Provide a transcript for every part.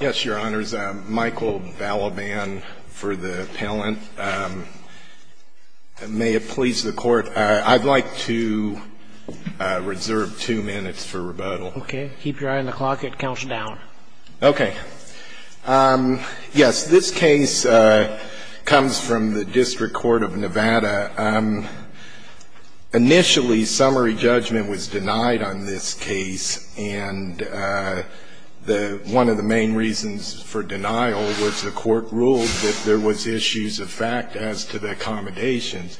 Yes, Your Honors. Michael Balaban for the appellant. May it please the Court, I'd like to reserve two minutes for rebuttal. Okay. Keep your eye on the clock. It counts down. Okay. Yes, this case comes from the District Court of Nevada. Initially, summary judgment was denied on this case, and one of the main reasons for denial was the Court ruled that there was issues of fact as to the accommodations.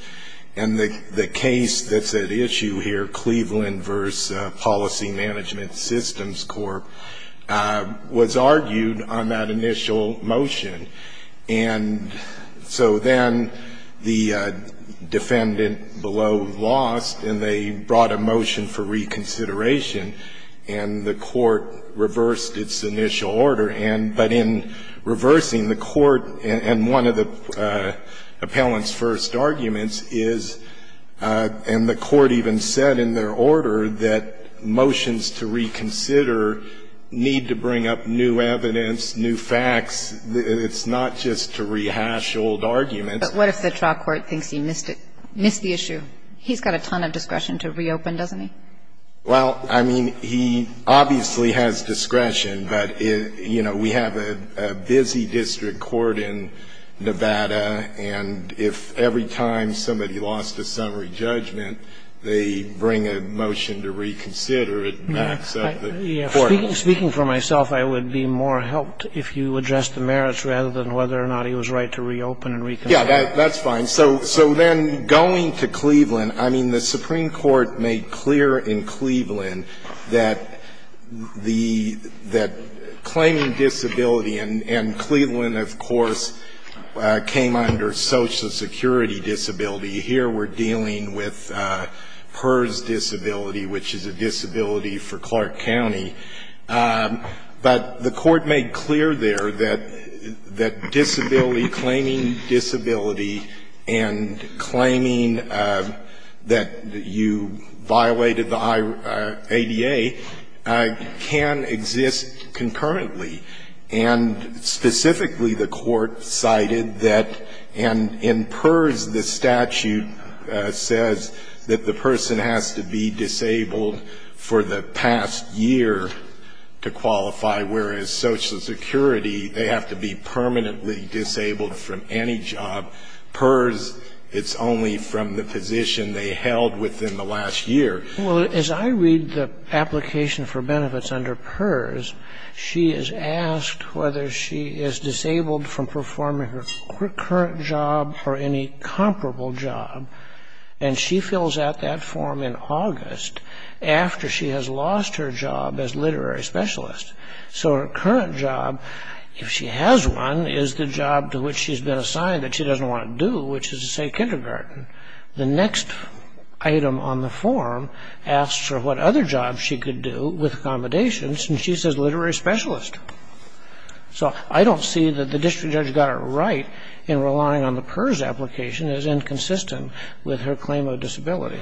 And the case that's at issue here, Cleveland v. Policy Management Systems Corp., was argued on that initial motion. And so then the defendant below lost, and they brought a motion for reconsideration, and the Court reversed its initial order. But in reversing, the Court, and one of the appellant's first arguments is, and the Court even said in their order, that motions to reconsider need to bring up new evidence, new facts. It's not just to rehash old arguments. But what if the trial court thinks he missed it, missed the issue? He's got a ton of discretion to reopen, doesn't he? Well, I mean, he obviously has discretion, but, you know, we have a busy district court in Nevada, and if every time somebody lost a summary judgment, they bring a motion to reconsider, it backs up the Court. Speaking for myself, I would be more helped if you addressed the merits rather than whether or not he was right to reopen and reconsider. Yeah, that's fine. So then going to Cleveland, I mean, the Supreme Court made clear in Cleveland that the – that claiming disability, and Cleveland, of course, came under Social Security disability. Here we're dealing with PERS disability, which is a disability for Clark County. But the Court made clear there that disability, claiming disability and claiming that you violated the ADA, can exist concurrently. And specifically, the Court cited that in PERS, the statute says that the person has to be disabled for the past year to qualify, whereas Social Security, they have to be permanently disabled from any job. PERS, it's only from the position they held within the last year. Well, as I read the application for benefits under PERS, she is asked whether she is disabled from performing her current job or any comparable job, and she fills out that form in August after she has lost her job as literary specialist. So her current job, if she has one, is the job to which she's been assigned that she doesn't want to do, which is to say kindergarten. The next item on the form asks her what other jobs she could do with accommodations, and she says literary specialist. So I don't see that the district judge got it right in relying on the PERS application as inconsistent with her claim of disability.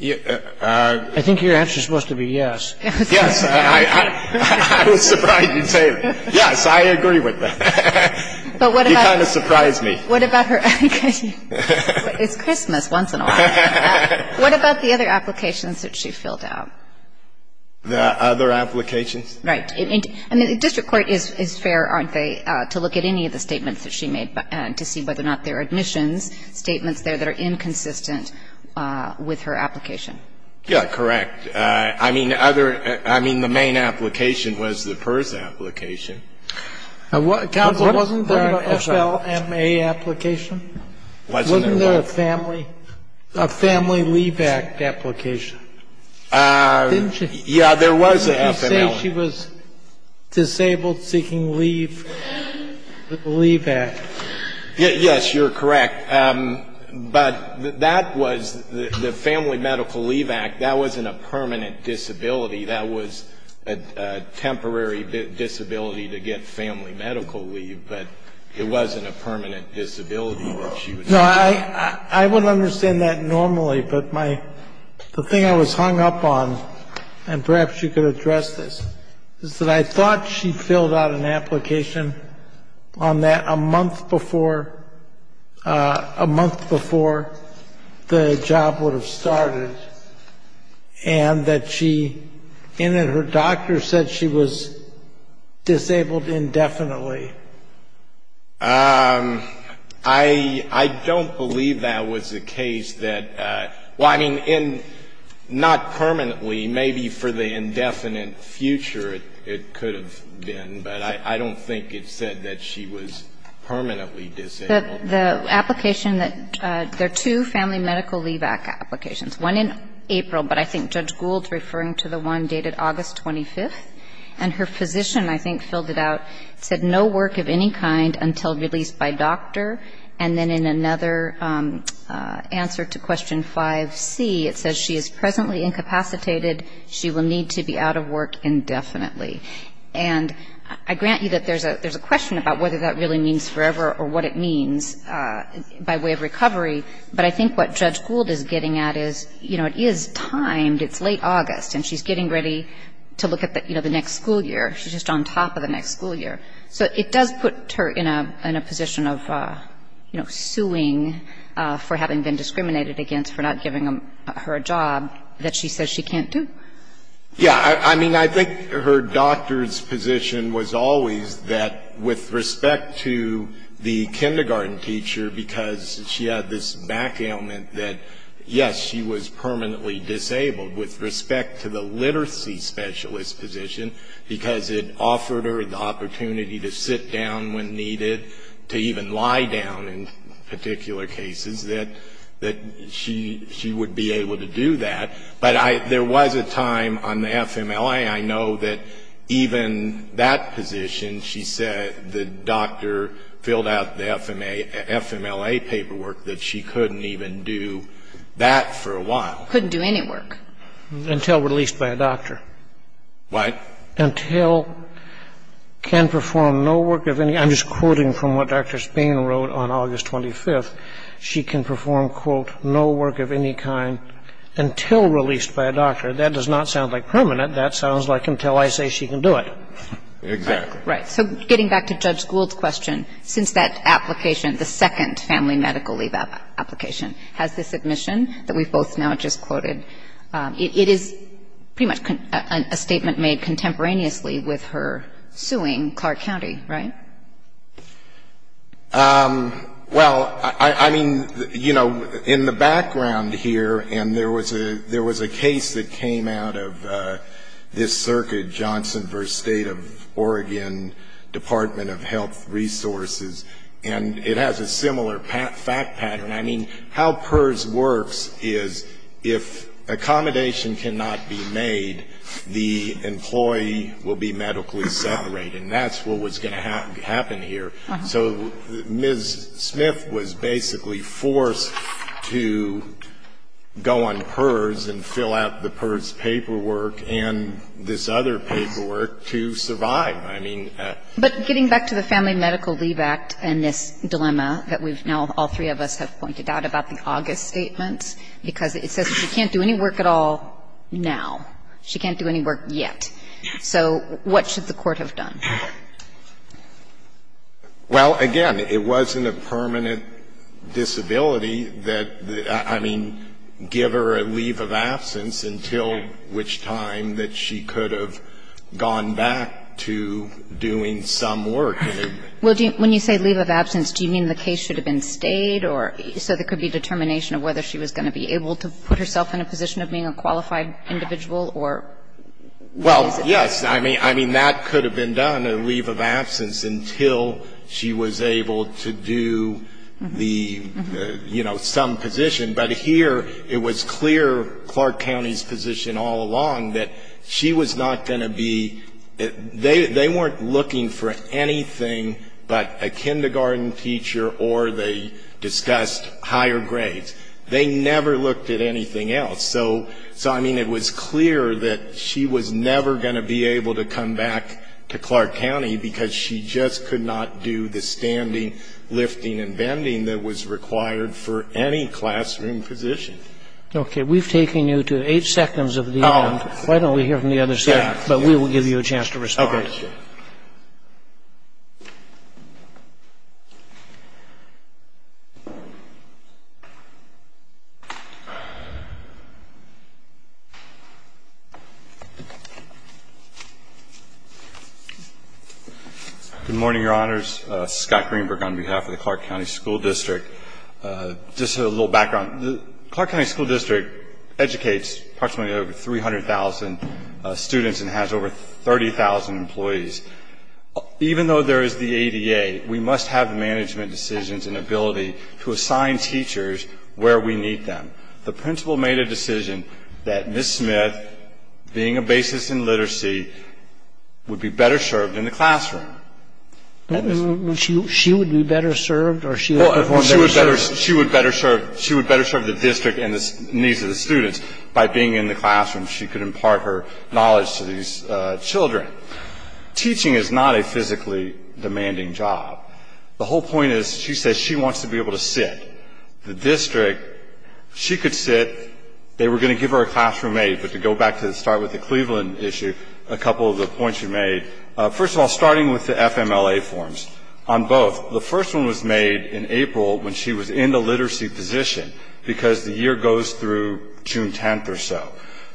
I think your answer is supposed to be yes. Yes. I was surprised you'd say that. Yes, I agree with that. You kind of surprised me. It's Christmas once in a while. What about the other applications that she filled out? The other applications? Right. And the district court is fair, aren't they, to look at any of the statements that she made to see whether or not there are admissions statements there that are inconsistent with her application? Yes, correct. I mean, the main application was the PERS application. Counsel, wasn't there an FLMA application? Wasn't there what? Wasn't there a Family Leave Act application? Didn't she? Yes, there was an FLMA one. She was disabled, seeking leave, with the Leave Act. Yes, you're correct. But that was the Family Medical Leave Act. That wasn't a permanent disability. That was a temporary disability to get family medical leave, but it wasn't a permanent disability that she was seeking. No, I wouldn't understand that normally, but the thing I was hung up on, and perhaps you could address this, is that I thought she filled out an application on that a month before, a month before the job would have started, and that she, and that her doctor said she was disabled indefinitely. I don't believe that was the case. Well, I mean, not permanently, maybe for the indefinite future it could have been, but I don't think it said that she was permanently disabled. The application that there are two Family Medical Leave Act applications, one in April, but I think Judge Gould's referring to the one dated August 25th, and her physician, I think, filled it out, said no work of any kind until released by doctor. And then in another answer to question 5C, it says she is presently incapacitated. She will need to be out of work indefinitely. And I grant you that there's a question about whether that really means forever or what it means by way of recovery, but I think what Judge Gould is getting at is, you know, it is timed. It's late August, and she's getting ready to look at the next school year. She's just on top of the next school year. So it does put her in a position of, you know, suing for having been discriminated against for not giving her a job that she says she can't do. Yeah. I mean, I think her doctor's position was always that with respect to the kindergarten teacher, because she had this back ailment that, yes, she was permanently disabled. With respect to the literacy specialist position, because it offered her the opportunity to sit down when needed, to even lie down in particular cases, that she would be able to do that. But there was a time on the FMLA. I know that even that position, she said the doctor filled out the FMLA paperwork, that she couldn't even do that for a while. Couldn't do any work. Until released by a doctor. What? Until can perform no work of any. I'm just quoting from what Dr. Spain wrote on August 25th. She can perform, quote, no work of any kind until released by a doctor. That does not sound like permanent. That sounds like until I say she can do it. Exactly. Right. So getting back to Judge Gould's question, since that application, the second family medical leave application, has this admission that we've both now just quoted, it is pretty much a statement made contemporaneously with her suing Clark County, right? Well, I mean, you know, in the background here, and there was a case that came out of this circuit, Johnson v. State of Oregon Department of Health Resources, and it has a similar fact pattern. I mean, how PERS works is if accommodation cannot be made, the employee will be medically separated. And that's what was going to happen here. So Ms. Smith was basically forced to go on PERS and fill out the PERS paperwork and this other paperwork to survive. But getting back to the Family Medical Leave Act and this dilemma that we've now, all three of us have pointed out about the August statements, because it says she can't do any work at all now. She can't do any work yet. So what should the Court have done? Well, again, it wasn't a permanent disability that, I mean, give her a leave of absence until which time that she could have gone back to doing some work. Well, when you say leave of absence, do you mean the case should have been stayed or so there could be determination of whether she was going to be able to put herself in a position of being a qualified individual or? Well, yes. I mean, that could have been done, a leave of absence, until she was able to do the, you know, some position. But here it was clear Clark County's position all along that she was not going to be, they weren't looking for anything but a kindergarten teacher or they discussed higher grades. They never looked at anything else. So, I mean, it was clear that she was never going to be able to come back to Clark County because she just could not do the standing, lifting and bending that was required for any classroom position. Okay. We've taken you to eight seconds of the event. Why don't we hear from the other staff? But we will give you a chance to respond. Okay. Good morning, Your Honors. Scott Greenberg on behalf of the Clark County School District. Just a little background. The Clark County School District educates approximately over 300,000 students and has over 30,000 employees. Even though there is the ADA, we must have the management decisions and ability to assign teachers where we need them. I would like to start by saying that I would not have thought that she would be better served in the classroom. She would be better served or she would have been better served? She would better serve the district and the needs of the students by being in the classroom. She could impart her knowledge to these children. Teaching is not a physically demanding job. The whole point is, she says she wants to be able to sit. The district, she could sit. They were going to give her a classroom aid. But to go back to the start with the Cleveland issue, a couple of the points you made. First of all, starting with the FMLA forms. On both, the first one was made in April when she was in the literacy position because the year goes through June 10th or so.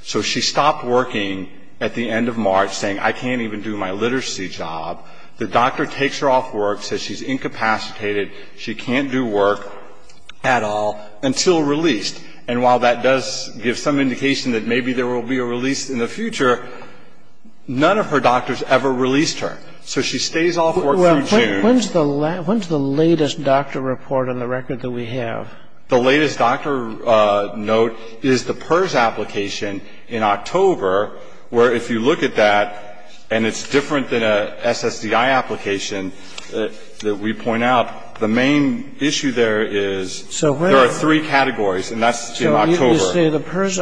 So she stopped working at the end of March saying, I can't even do my literacy job. The doctor takes her off work, says she's incapacitated, she can't do work. At all. Until released. And while that does give some indication that maybe there will be a release in the future, none of her doctors ever released her. So she stays off work through June. When's the latest doctor report on the record that we have? The latest doctor note is the PERS application in October, where if you look at that, and it's different than an SSDI application that we point out, the main issue there is there are three categories, and that's in October. So you say the PERS,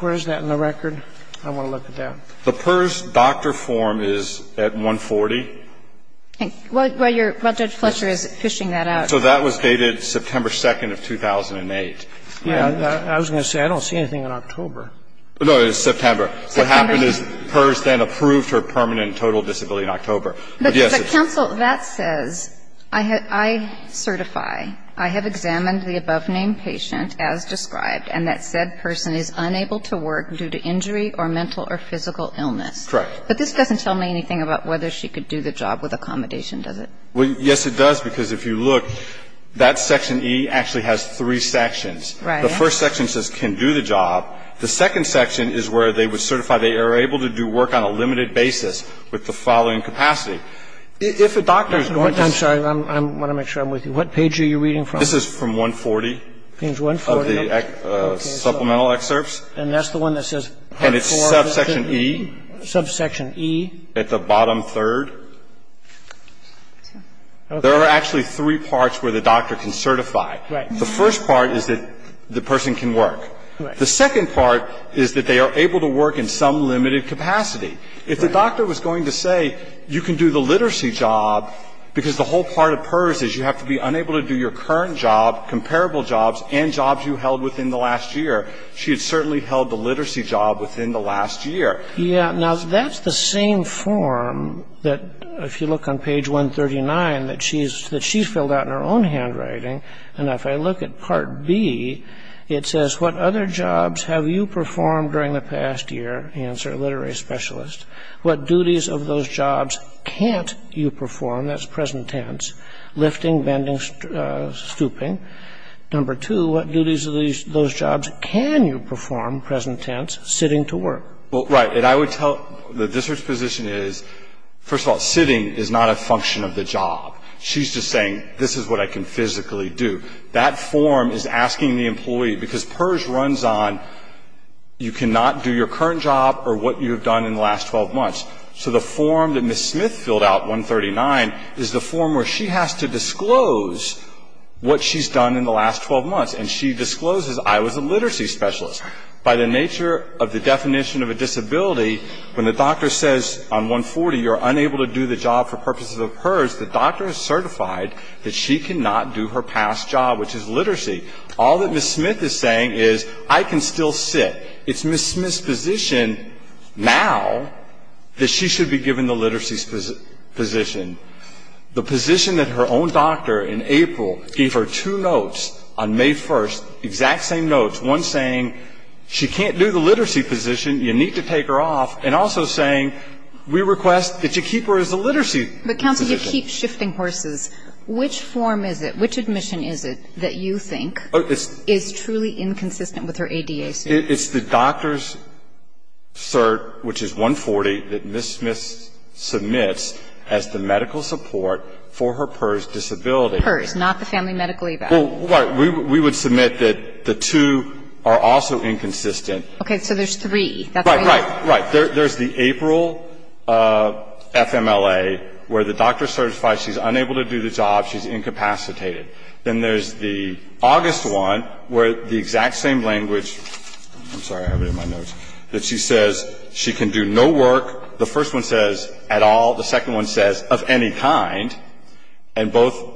where is that in the record? I want to look at that. The PERS doctor form is at 140. Well, Judge Fletcher is fishing that out. So that was dated September 2nd of 2008. I was going to say, I don't see anything in October. No, it's September. What happened is PERS then approved her permanent and total disability in October. But, counsel, that says, I certify, I have examined the above-named patient as described, and that said person is unable to work due to injury or mental or physical illness. Correct. But this doesn't tell me anything about whether she could do the job with accommodation, does it? Well, yes, it does, because if you look, that Section E actually has three sections. Right. The first section says can do the job. The second section is where they would certify they are able to do work on a limited basis with the following capacity. If a doctor is going to say to you. I'm sorry. I want to make sure I'm with you. What page are you reading from? This is from 140. Page 140. Of the supplemental excerpts. And that's the one that says part 4. And it's subsection E. Subsection E. At the bottom third. There are actually three parts where the doctor can certify. Right. The first part is that the person can work. Right. The second part is that they are able to work in some limited capacity. Right. If the doctor was going to say you can do the literacy job, because the whole part of PERS is you have to be unable to do your current job, comparable jobs, and jobs you held within the last year, she had certainly held the literacy job within the last year. Yeah. Now, that's the same form that if you look on page 139 that she's filled out in her own handwriting. And if I look at part B, it says what other jobs have you performed during the past year? Answer, literary specialist. What duties of those jobs can't you perform? That's present tense. Lifting, bending, stooping. Number two, what duties of those jobs can you perform, present tense, sitting to work? Well, right. And I would tell the district's position is, first of all, sitting is not a function of the job. She's just saying this is what I can physically do. That form is asking the employee, because PERS runs on you cannot do your current job or what you have done in the last 12 months. So the form that Ms. Smith filled out, 139, is the form where she has to disclose what she's done in the last 12 months. And she discloses I was a literacy specialist. By the nature of the definition of a disability, when the doctor says on 140 you're unable to do the job for purposes of PERS, the doctor is certified that she cannot do her past job, which is literacy. All that Ms. Smith is saying is I can still sit. It's Ms. Smith's position now that she should be given the literacy position, the position that her own doctor in April gave her two notes on May 1st, exact same notes, one saying she can't do the literacy position, you need to take her off, and also saying we request that you keep her as a literacy position. But, counsel, you keep shifting horses. Which form is it, which admission is it that you think is truly inconsistent with her ADA status? It's the doctor's cert, which is 140, that Ms. Smith submits as the medical support for her PERS disability. PERS, not the family medical eval. Right. We would submit that the two are also inconsistent. Okay. So there's three. Right, right, right. There's the April FMLA where the doctor certifies she's unable to do the job. She's incapacitated. Then there's the August one where the exact same language, I'm sorry, I have it in my notes, that she says she can do no work. The first one says at all. The second one says of any kind. And both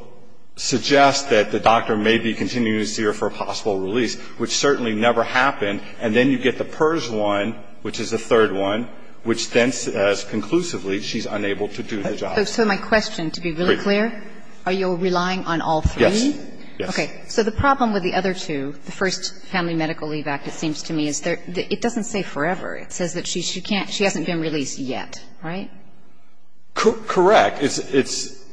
suggest that the doctor may be continuing to see her for a possible release, which certainly never happened. And then you get the PERS one, which is the third one, which then says conclusively she's unable to do the job. So my question, to be really clear, are you relying on all three? Yes. Okay. So the problem with the other two, the first family medical leave act, it seems to me, is it doesn't say forever. It says that she can't, she hasn't been released yet. Right? Correct. It's,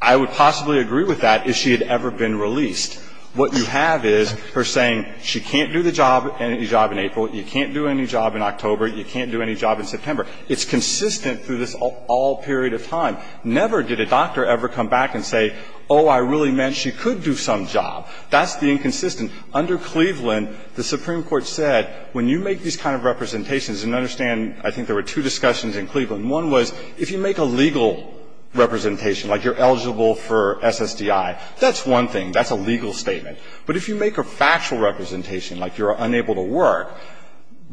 I would possibly agree with that, is she had ever been released. What you have is her saying she can't do the job, any job in April, you can't do any job in October, you can't do any job in September. It's consistent through this all period of time. Never did a doctor ever come back and say, oh, I really meant she could do some job. That's the inconsistent. Under Cleveland, the Supreme Court said when you make these kind of representations and understand, I think there were two discussions in Cleveland. One was if you make a legal representation, like you're eligible for SSDI, that's one thing. That's a legal statement. But if you make a factual representation, like you're unable to work,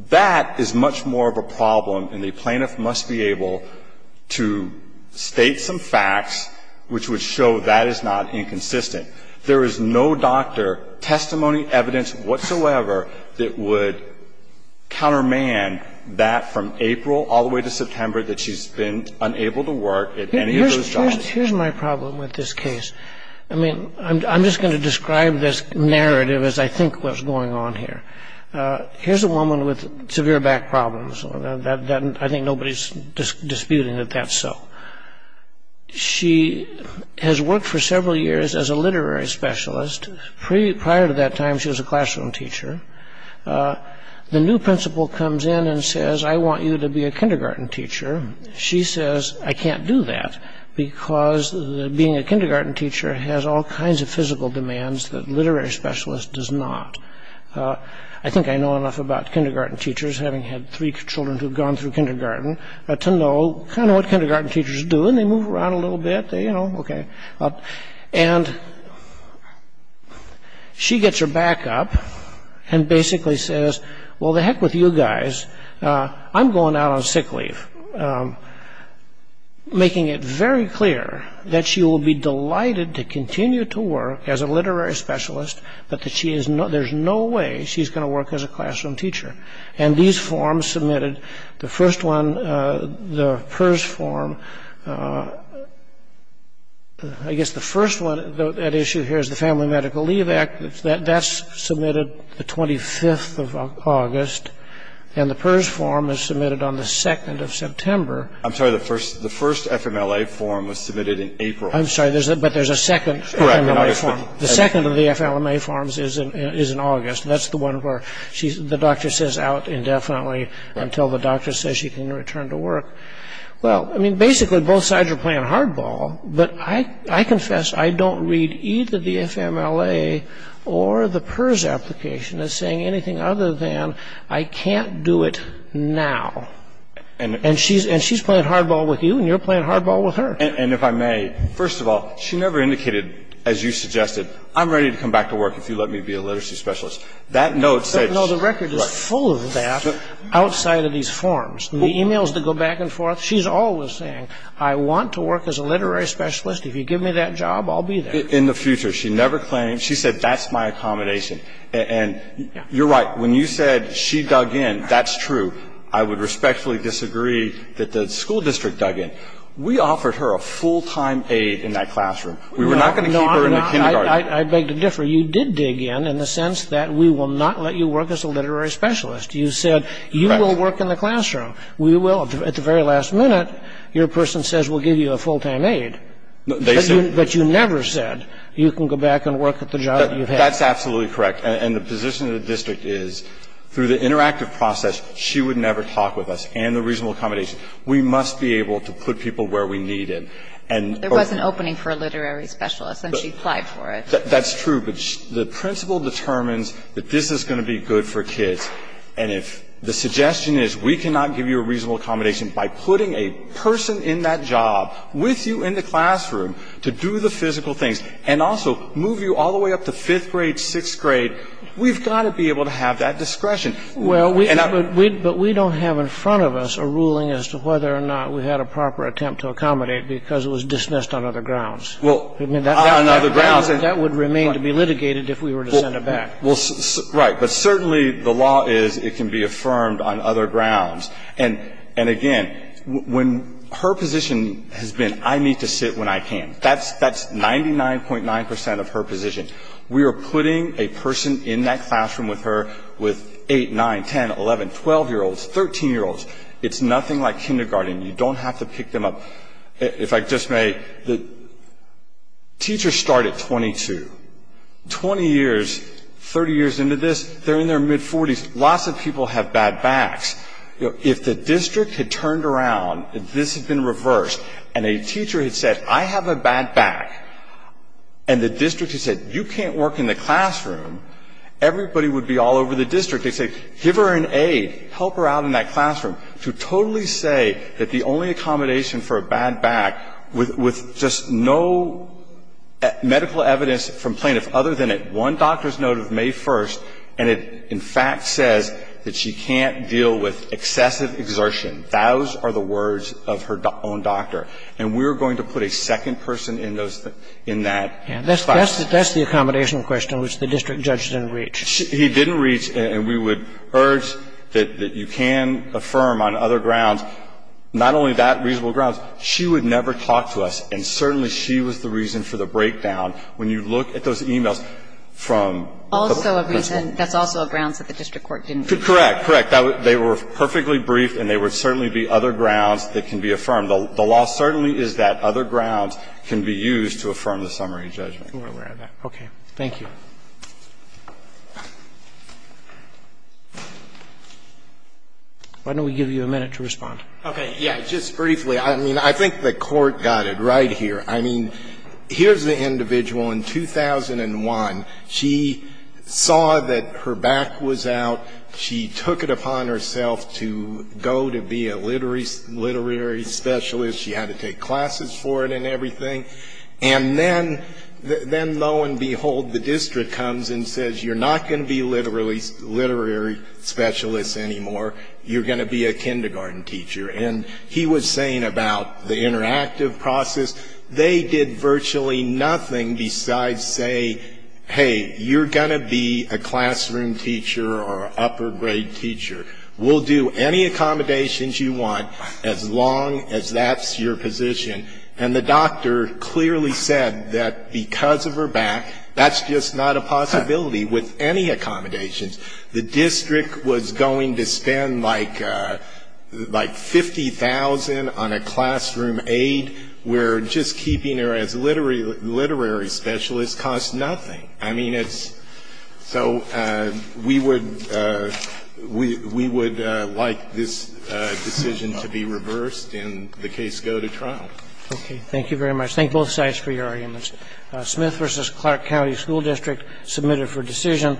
that is much more of a problem and the plaintiff must be able to state some facts which would show that is not inconsistent. There is no doctor, testimony, evidence whatsoever that would countermand that from April all the way to September that she's been unable to work at any of those jobs. Here's my problem with this case. I mean, I'm just going to describe this narrative as I think what's going on here. Here's a woman with severe back problems. I think nobody's disputing that that's so. She has worked for several years as a literary specialist. Prior to that time, she was a classroom teacher. The new principal comes in and says, I want you to be a kindergarten teacher. She says, I can't do that because being a kindergarten teacher has all kinds of physical demands that a literary specialist does not. I think I know enough about kindergarten teachers, having had three children who have gone through kindergarten, to know kind of what kindergarten teachers do. And they move around a little bit. They, you know, okay. And she gets her back up and basically says, well, to heck with you guys. I'm going out on sick leave, making it very clear that she will be delighted to continue to work as a literary specialist, but there's no way she's going to work as a classroom teacher. And these forms submitted, the first one, the PERS form, I guess the first one at issue here is the Family Medical Leave Act. That's submitted the 25th of August. And the PERS form is submitted on the 2nd of September. I'm sorry, the first FMLA form was submitted in April. I'm sorry, but there's a second FMLA form. The second of the FLMA forms is in August. That's the one where the doctor says out indefinitely until the doctor says she can return to work. Well, I mean, basically both sides are playing hardball. But I confess I don't read either the FMLA or the PERS application as saying anything other than I can't do it now. And she's playing hardball with you and you're playing hardball with her. And if I may, first of all, she never indicated, as you suggested, I'm ready to come back to work if you let me be a literacy specialist. That note said no. The record is full of that outside of these forms. And the e-mails that go back and forth, she's always saying I want to work as a literary specialist. If you give me that job, I'll be there. In the future, she never claimed. She said that's my accommodation. And you're right, when you said she dug in, that's true. I would respectfully disagree that the school district dug in. We offered her a full-time aid in that classroom. We were not going to keep her in the kindergarten. I beg to differ. You did dig in in the sense that we will not let you work as a literary specialist. You said you will work in the classroom. We will. At the very last minute, your person says we'll give you a full-time aid. But you never said you can go back and work at the job that you've had. That's absolutely correct. And the position of the district is through the interactive process, she would never talk with us and the reasonable accommodation. We must be able to put people where we need them. There was an opening for a literary specialist and she applied for it. That's true. But the principle determines that this is going to be good for kids. And if the suggestion is we cannot give you a reasonable accommodation by putting a person in that job with you in the classroom to do the physical things and also move you all the way up to fifth grade, sixth grade, we've got to be able to have that discretion. Well, but we don't have in front of us a ruling as to whether or not we had a proper attempt to accommodate because it was dismissed on other grounds. Well, on other grounds. That would remain to be litigated if we were to send it back. Well, right. But certainly the law is it can be affirmed on other grounds. And again, when her position has been I need to sit when I can, that's 99.9 percent of her position. We are putting a person in that classroom with her with 8, 9, 10, 11, 12-year-olds, 13-year-olds. It's nothing like kindergarten. You don't have to pick them up. If I just may, teachers start at 22. Twenty years, 30 years into this, they're in their mid-40s. Lots of people have bad backs. If the district had turned around and this had been reversed and a teacher had said, I have a bad back, and the district had said, you can't work in the classroom, everybody would be all over the district. They'd say, give her an aid. Help her out in that classroom. We're going to put a second person in that classroom to totally say that the only accommodation for a bad back, with just no medical evidence from plaintiffs other than at one doctor's note of May 1st, and it in fact says that she can't deal with excessive exertion, those are the words of her own doctor. And we're going to put a second person in those things, in that classroom. And that's the accommodation question which the district judge didn't reach. He didn't reach, and we would urge that you can affirm on other grounds, not only that reasonable grounds, she would never talk to us, and certainly she was the reason for the breakdown. When you look at those e-mails from the principal. Also a reason, that's also a grounds that the district court didn't reach. Correct, correct. They were perfectly briefed and they would certainly be other grounds that can be affirmed. The law certainly is that other grounds can be used to affirm the summary judgment. I'm aware of that. Okay. Thank you. Why don't we give you a minute to respond? Okay. Yeah, just briefly. I mean, I think the Court got it right here. I mean, here's the individual in 2001. She saw that her back was out. She took it upon herself to go to be a literary specialist. She had to take classes for it and everything. And then, lo and behold, the district comes and says, you're not going to be a literary specialist anymore. You're going to be a kindergarten teacher. And he was saying about the interactive process, they did virtually nothing besides say, hey, you're going to be a classroom teacher or an upper grade teacher. We'll do any accommodations you want as long as that's your position. And the doctor clearly said that because of her back, that's just not a possibility with any accommodations. The district was going to spend like 50,000 on a classroom aid where just keeping her as a literary specialist costs nothing. I mean, it's so we would like this decision to be reversed and the case go to trial. Okay. Thank you very much. Thank both sides for your arguments. Smith v. Clark County School District submitted for decision.